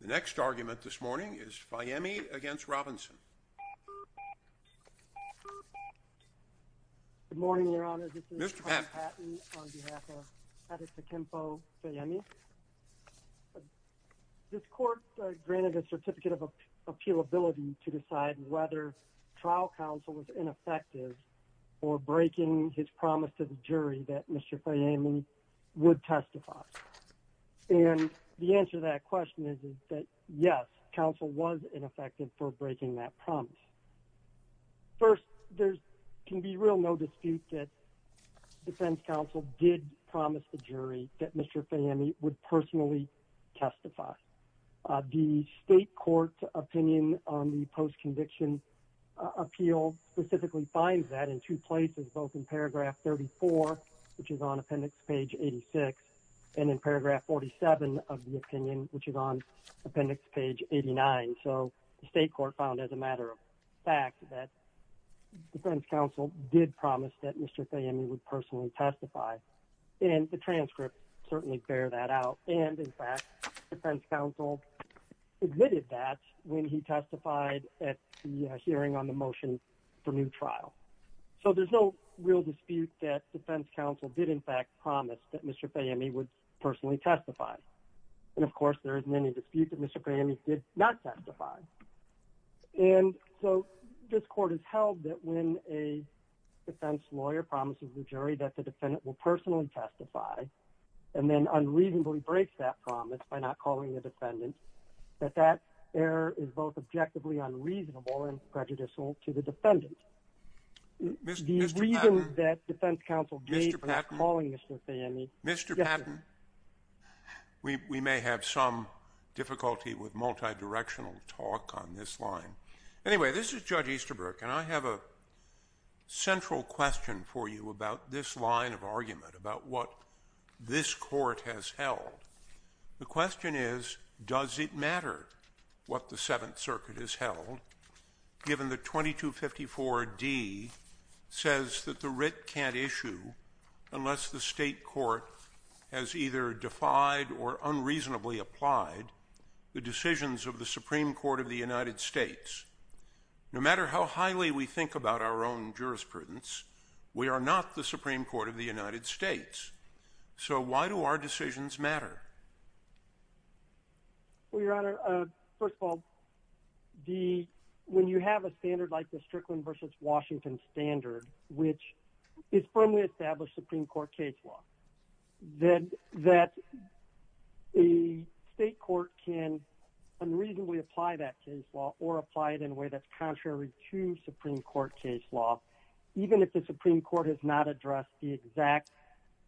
The next argument this morning is Fayemi against Robinson. Good morning, Your Honor, this is Pat Paton on behalf of Adetokunbo Fayemi. This court granted a certificate of appealability to decide whether trial counsel was ineffective or breaking his promise to the jury that Mr. Fayemi would testify. And the answer to that question is that yes, counsel was ineffective for breaking that promise. First, there can be real no dispute that defense counsel did promise the jury that Mr. Fayemi would personally testify. The state court's opinion on the post-conviction appeal specifically finds that in two places, both in paragraph 34, which is on appendix page 86, and in paragraph 47 of the opinion, which is on appendix page 89. So the state court found as a matter of fact that defense counsel did promise that Mr. Fayemi would personally testify. And the transcript certainly bears that out. And in fact, defense counsel admitted that when he testified at the hearing on the motion for new trial. So there's no real dispute that defense counsel did in fact promise that Mr. Fayemi would personally testify. And of course, there isn't any dispute that Mr. Fayemi did not testify. And so this court has held that when a defense lawyer promises the jury that the defendant will personally testify, and then unreasonably breaks that promise by not calling the defendant, that that error is both objectively unreasonable and prejudicial to the defendant. The reason that defense counsel gave for not calling Mr. Fayemi — Mr. Patton, we may have some difficulty with multidirectional talk on this line. Anyway, this is Judge Easterbrook, and I have a central question for you about this line of argument, about what this court has held. The question is, does it matter what the Seventh Circuit has held, given that 2254d says that the writ can't issue unless the state court has either defied or unreasonably applied the decisions of the Supreme Court of the United States? No matter how highly we think about our own jurisprudence, we are not the Supreme Court of the United States. So why do our decisions matter? Well, Your Honor, first of all, when you have a standard like the Strickland v. Washington standard, which is firmly established Supreme Court case law, that a state court can unreasonably apply that case law or apply it in a way that's contrary to Supreme Court case law, even if the Supreme Court has not addressed the exact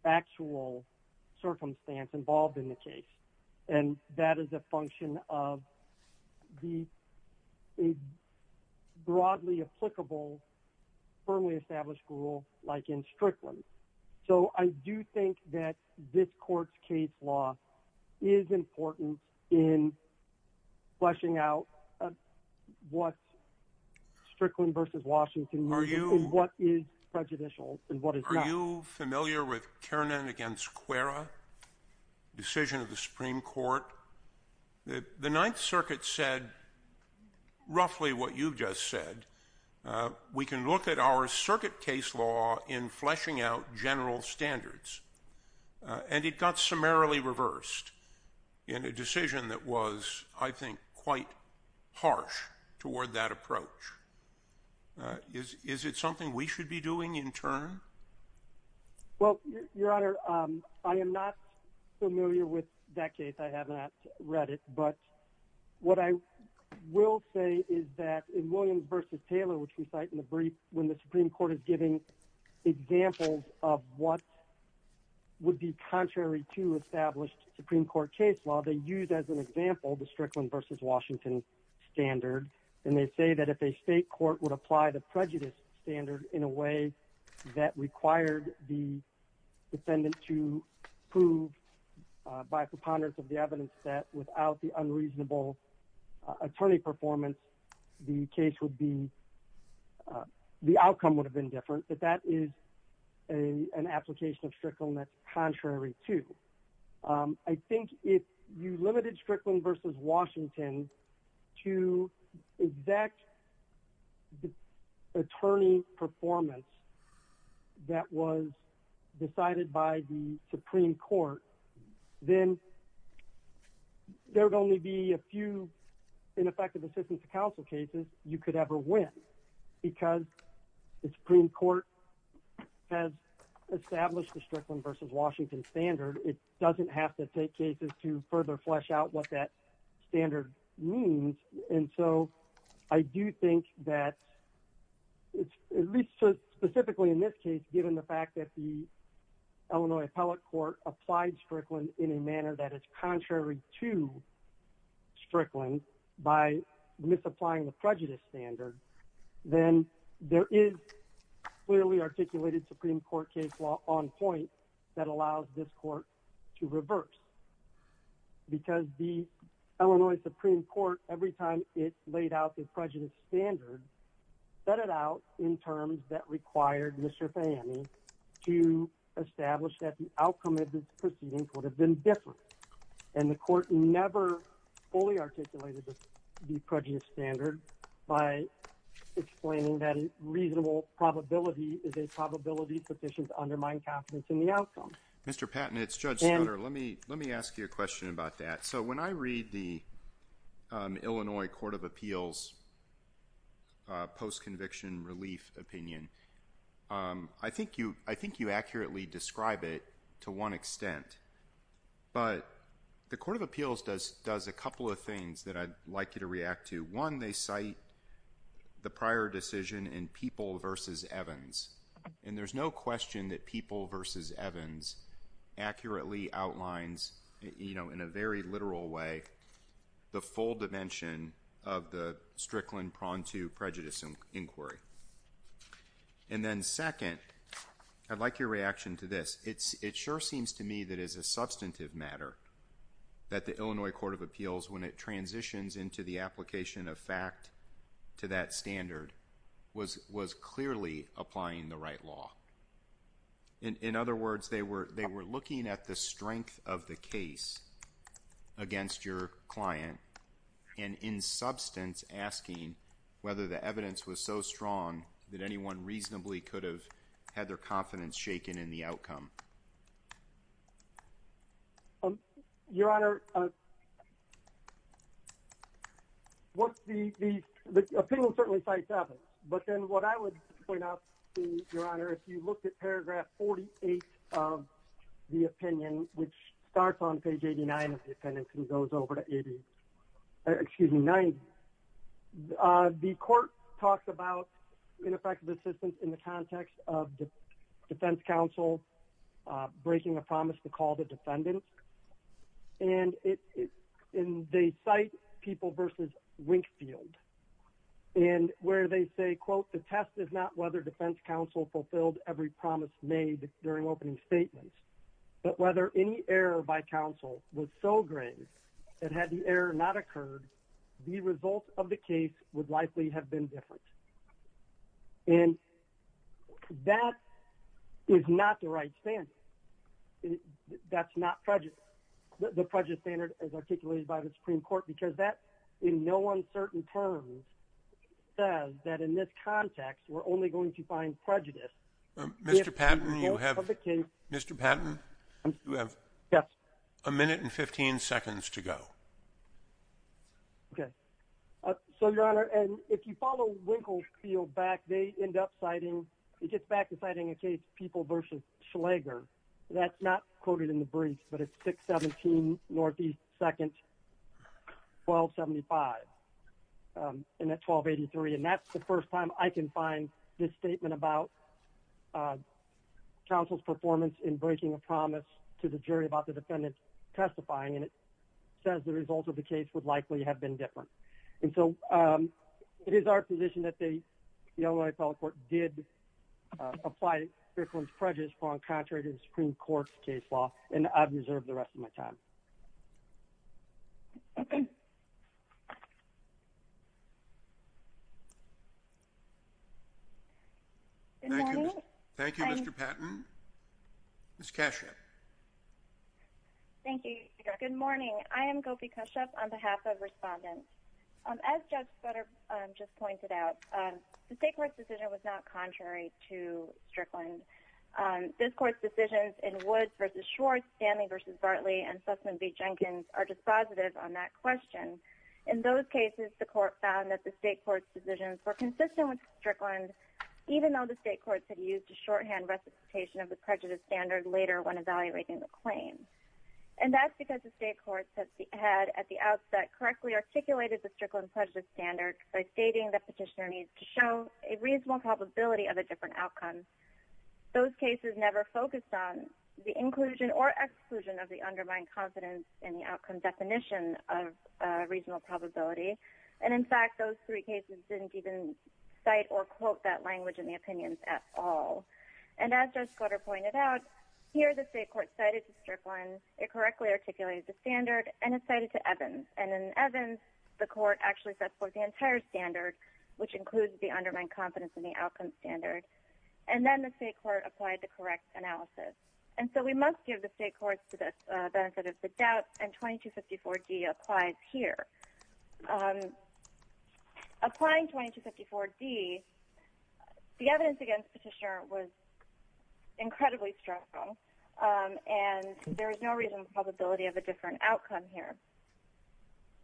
actual circumstance involved in the case. And that is a function of the broadly applicable, firmly established rule like in Strickland. So I do think that this court's case law is important in fleshing out what Strickland v. Washington — In what is prejudicial, in what is not. Are you familiar with Kiernan v. Cuerra, decision of the Supreme Court? The Ninth Circuit said roughly what you've just said. We can look at our circuit case law in fleshing out general standards. And it got summarily reversed in a decision that was, I think, quite harsh toward that approach. Is it something we should be doing in turn? Well, Your Honor, I am not familiar with that case. I have not read it. But what I will say is that in Williams v. Taylor, which we cite in the brief, when the Supreme Court is giving examples of what would be contrary to established Supreme Court case law, they use as an example the Strickland v. Washington standard. And they say that if a state court would apply the prejudice standard in a way that required the defendant to prove by preponderance of the evidence that without the unreasonable attorney performance, the case would be — the outcome would have been different. But that is an application of Strickland that's contrary to. I think if you limited Strickland v. Washington to exact attorney performance that was decided by the Supreme Court, then there would only be a few ineffective assistance to counsel cases you could ever win. Because the Supreme Court has established the Strickland v. Washington standard. It doesn't have to take cases to further flesh out what that standard means. And so I do think that, at least specifically in this case, given the fact that the Illinois Appellate Court applied Strickland in a manner that is contrary to Strickland by misapplying the prejudice standard, then there is clearly articulated Supreme Court case law on point that allows this court to reverse. Because the Illinois Supreme Court, every time it laid out the prejudice standard, set it out in terms that required Mr. Fahey to establish that the outcome of this proceeding would have been different. And the court never fully articulated the prejudice standard by explaining that a reasonable probability is a probability sufficient to undermine confidence in the outcome. Mr. Patton, it's Judge Stoddard. Let me ask you a question about that. So when I read the Illinois Court of Appeals post-conviction relief opinion, I think you accurately describe it to one extent. But the Court of Appeals does a couple of things that I'd like you to react to. One, they cite the prior decision in Peeple v. Evans. And there's no question that Peeple v. Evans accurately outlines, you know, in a very literal way, the full dimension of the Strickland pronto prejudice inquiry. And then second, I'd like your reaction to this. It sure seems to me that it's a substantive matter that the Illinois Court of Appeals, when it transitions into the application of fact to that standard, was clearly applying the right law. In other words, they were looking at the strength of the case against your client and in substance asking whether the evidence was so strong that anyone reasonably could have had their confidence shaken in the outcome. Your Honor, the opinion certainly cites Evans. But then what I would point out, Your Honor, if you looked at paragraph 48 of the opinion, which starts on page 89 of the appendix and goes over to 80, excuse me, 90, the court talks about ineffective assistance in the context of defense counsel breaking a promise to call the defendant. And they cite Peeple v. Winkfield. And where they say, quote, the test is not whether defense counsel fulfilled every promise made during opening statements, but whether any error by counsel was so grave that had the error not occurred, the result of the case would likely have been different. And that is not the right standard. That's not the prejudice standard as articulated by the Supreme Court because that in no uncertain terms says that in this context we're only going to find prejudice. Mr. Patton, you have a minute and 15 seconds to go. Okay. So, Your Honor, and if you follow Winkfield back, they end up citing, he gets back to citing a case, Peeple v. Schlager. That's not quoted in the briefs, but it's 617 Northeast 2nd, 1275. And that's 1283. And that's the first time I can find this statement about counsel's performance in breaking a promise to the jury about the defendant testifying. And it says the result of the case would likely have been different. And so it is our position that the Illinois Appellate Court did apply this one's prejudice on contrary to the Supreme Court's case law. And I've reserved the rest of my time. Good morning. Thank you, Mr. Patton. Ms. Cascio. Thank you, Your Honor. Good morning. I am Gopi Kashyap on behalf of respondents. As Judge Sutter just pointed out, the state court's decision was not contrary to Strickland. This court's decisions in Woods v. Schwartz, Stanley v. Bartley, and Sussman v. Jenkins are dispositive on that question. In those cases, the court found that the state court's decisions were consistent with Strickland, even though the state courts had used a shorthand recitation of the prejudice standard later when evaluating the claim. And that's because the state courts had at the outset correctly articulated the Strickland prejudice standard by stating that petitioner needs to show a reasonable probability of a different outcome. Those cases never focused on the inclusion or exclusion of the undermined confidence in the outcome definition of a reasonable probability. And, in fact, those three cases didn't even cite or quote that language in the opinions at all. And as Judge Sutter pointed out, here the state court cited to Strickland, it correctly articulated the standard, and it cited to Evans. And in Evans, the court actually set forth the entire standard, which includes the undermined confidence in the outcome standard. And then the state court applied the correct analysis. And so we must give the state courts the benefit of the doubt, and 2254G applies here. Applying 2254D, the evidence against petitioner was incredibly stressful, and there is no reasonable probability of a different outcome here.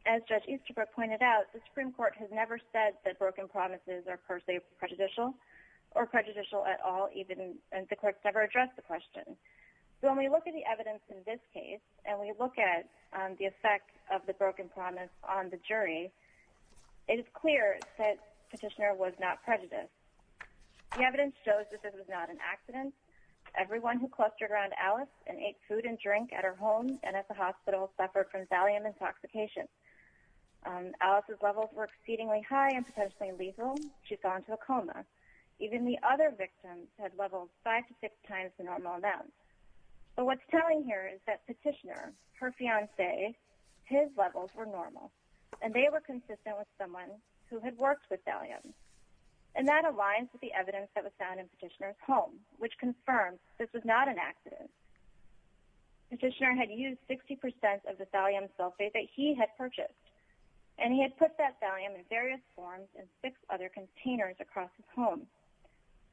As Judge Easterbrook pointed out, the Supreme Court has never said that broken promises are per se prejudicial or prejudicial at all, and the courts never addressed the question. So when we look at the evidence in this case, and we look at the effect of the broken promise on the jury, it is clear that petitioner was not prejudiced. The evidence shows that this was not an accident. Everyone who clustered around Alice and ate food and drink at her home and at the hospital suffered from thallium intoxication. Alice's levels were exceedingly high and potentially lethal. She fell into a coma. Even the other victims had levels five to six times the normal amount. But what's telling here is that petitioner, her fiancé, his levels were normal, and they were consistent with someone who had worked with thallium. And that aligns with the evidence that was found in petitioner's home, which confirms this was not an accident. Petitioner had used 60% of the thallium sulfate that he had purchased, and he had put that thallium in various forms in six other containers across his home,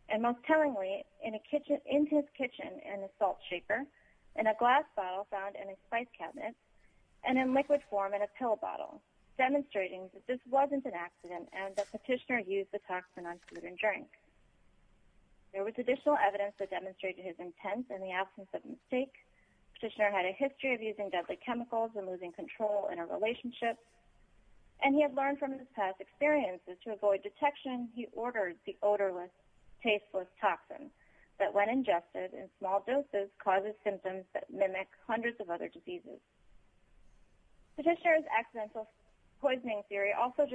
and most tellingly into his kitchen in a salt shaker, in a glass bottle found in a spice cabinet, and in liquid form in a pill bottle, demonstrating that this wasn't an accident and that petitioner used the toxin on food and drink. There was additional evidence that demonstrated his intent in the absence of mistake. Petitioner had a history of using deadly chemicals and losing control in a relationship, and he had learned from his past experiences to avoid detection, he ordered the odorless, tasteless toxin that, when ingested in small doses, causes symptoms that mimic hundreds of other diseases. Petitioner's accidental poisoning theory also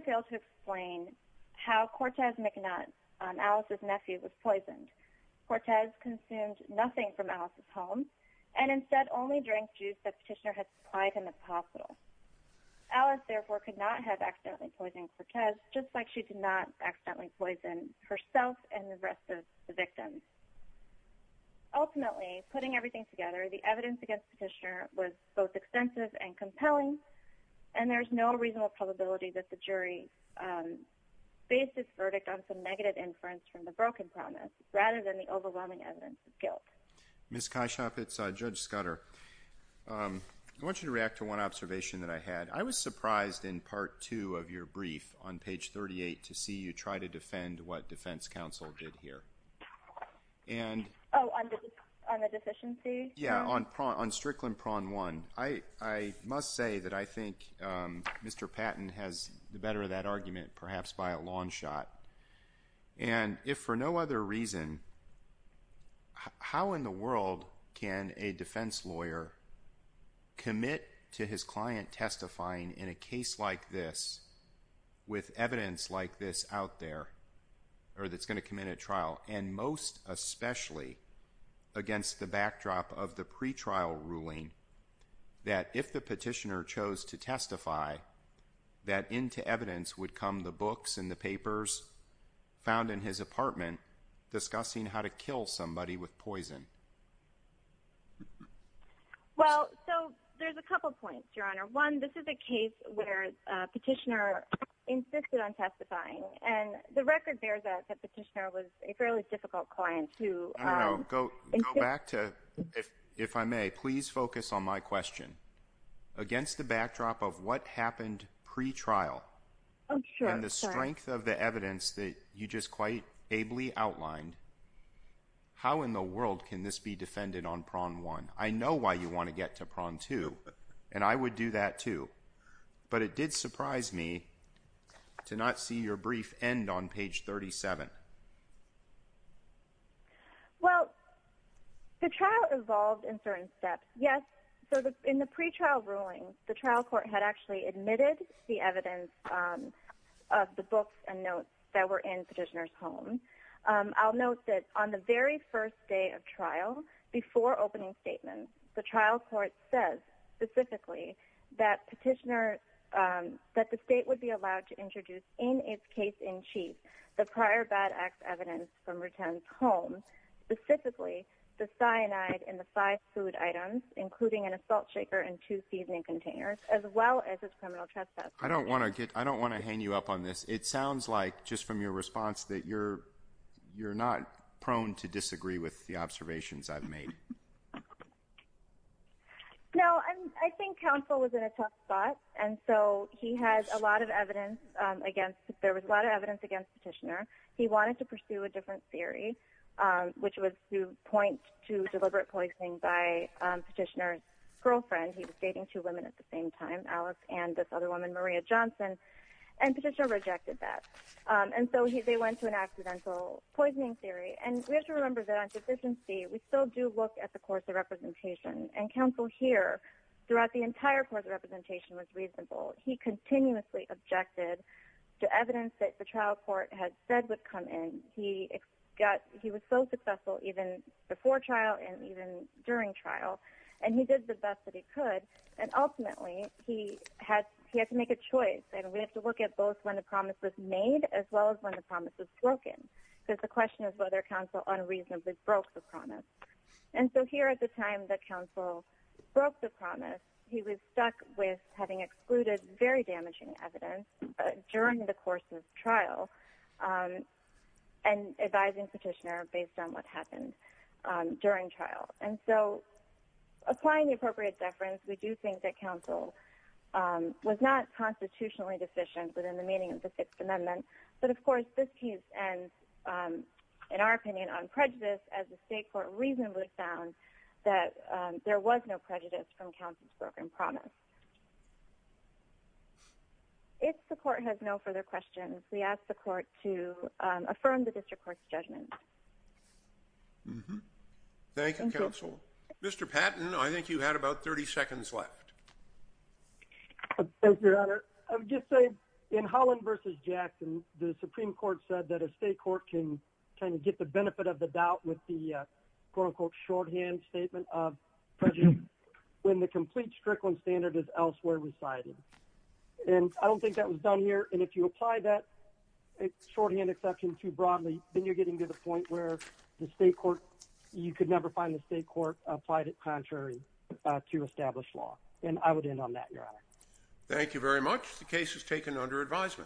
failed to explain how Cortez McNutt, Alice's nephew, was poisoned. Cortez consumed nothing from Alice's home, and instead only drank juice that Petitioner had supplied him at the hospital. Alice, therefore, could not have accidentally poisoned Cortez, just like she did not accidentally poison herself and the rest of the victims. Ultimately, putting everything together, the evidence against Petitioner was both extensive and compelling, and there's no reasonable probability that the jury based its verdict on some negative inference from the broken promise, rather than the overwhelming evidence of guilt. Ms. Kyshop, it's Judge Scudder. I want you to react to one observation that I had. I was surprised in Part 2 of your brief on page 38 to see you try to defend what defense counsel did here. Oh, on the deficiency? Yeah, on Strickland Prawn 1. I must say that I think Mr. Patton has the better of that argument, perhaps by a long shot. And if for no other reason, how in the world can a defense lawyer commit to his client testifying in a case like this, with evidence like this out there, or that's going to come in at trial, and most especially against the backdrop of the pretrial ruling, that if the Petitioner chose to testify, that into evidence would come the books and the papers found in his apartment, discussing how to kill somebody with poison? Well, so there's a couple points, Your Honor. One, this is a case where Petitioner insisted on testifying, and the record bears that Petitioner was a fairly difficult client to— Go back to, if I may, please focus on my question. Against the backdrop of what happened pretrial, and the strength of the evidence that you just quite ably outlined, how in the world can this be defended on Prawn 1? I know why you want to get to Prawn 2, and I would do that too. But it did surprise me to not see your brief end on page 37. Well, the trial evolved in certain steps. Yes, so in the pretrial ruling, the trial court had actually admitted the evidence of the books and notes that were in Petitioner's home. I'll note that on the very first day of trial, before opening statements, the trial court says specifically that Petitioner—that the state would be allowed to introduce, in its case in chief, the prior bad acts evidence from Rutan's home, specifically the cyanide in the five food items, including an assault shaker and two seasoning containers, as well as his criminal trespass. I don't want to hang you up on this. It sounds like just from your response that you're not prone to disagree with the observations I've made. No, I think counsel was in a tough spot, and so he had a lot of evidence against— there was a lot of evidence against Petitioner. He wanted to pursue a different theory, which was to point to deliberate poisoning by Petitioner's girlfriend. He was dating two women at the same time, Alex and this other woman, Maria Johnson, and Petitioner rejected that. And so they went to an accidental poisoning theory. And we have to remember that on deficiency, we still do look at the course of representation, and counsel here, throughout the entire course of representation, was reasonable. He continuously objected to evidence that the trial court had said would come in. He was so successful even before trial and even during trial, and he did the best that he could. And ultimately, he had to make a choice, and we have to look at both when the promise was made as well as when the promise was broken. Because the question is whether counsel unreasonably broke the promise. And so here at the time that counsel broke the promise, he was stuck with having excluded very damaging evidence during the course of trial and advising Petitioner based on what happened during trial. And so applying the appropriate deference, we do think that counsel was not constitutionally deficient within the meaning of the Sixth Amendment. But, of course, this case ends, in our opinion, on prejudice as the state court reasonably found that there was no prejudice from counsel's broken promise. If the court has no further questions, we ask the court to affirm the district court's judgment. Thank you, counsel. Mr. Patton, I think you had about 30 seconds left. Thank you, Your Honor. Your Honor, I would just say in Holland v. Jackson, the Supreme Court said that a state court can kind of get the benefit of the doubt with the quote-unquote shorthand statement of prejudice when the complete Strickland standard is elsewhere recited. And I don't think that was done here, and if you apply that shorthand exception too broadly, then you're getting to the point where the state court – you could never find the state court applied it contrary to established law. And I would end on that, Your Honor. Thank you very much. The case is taken under advisement.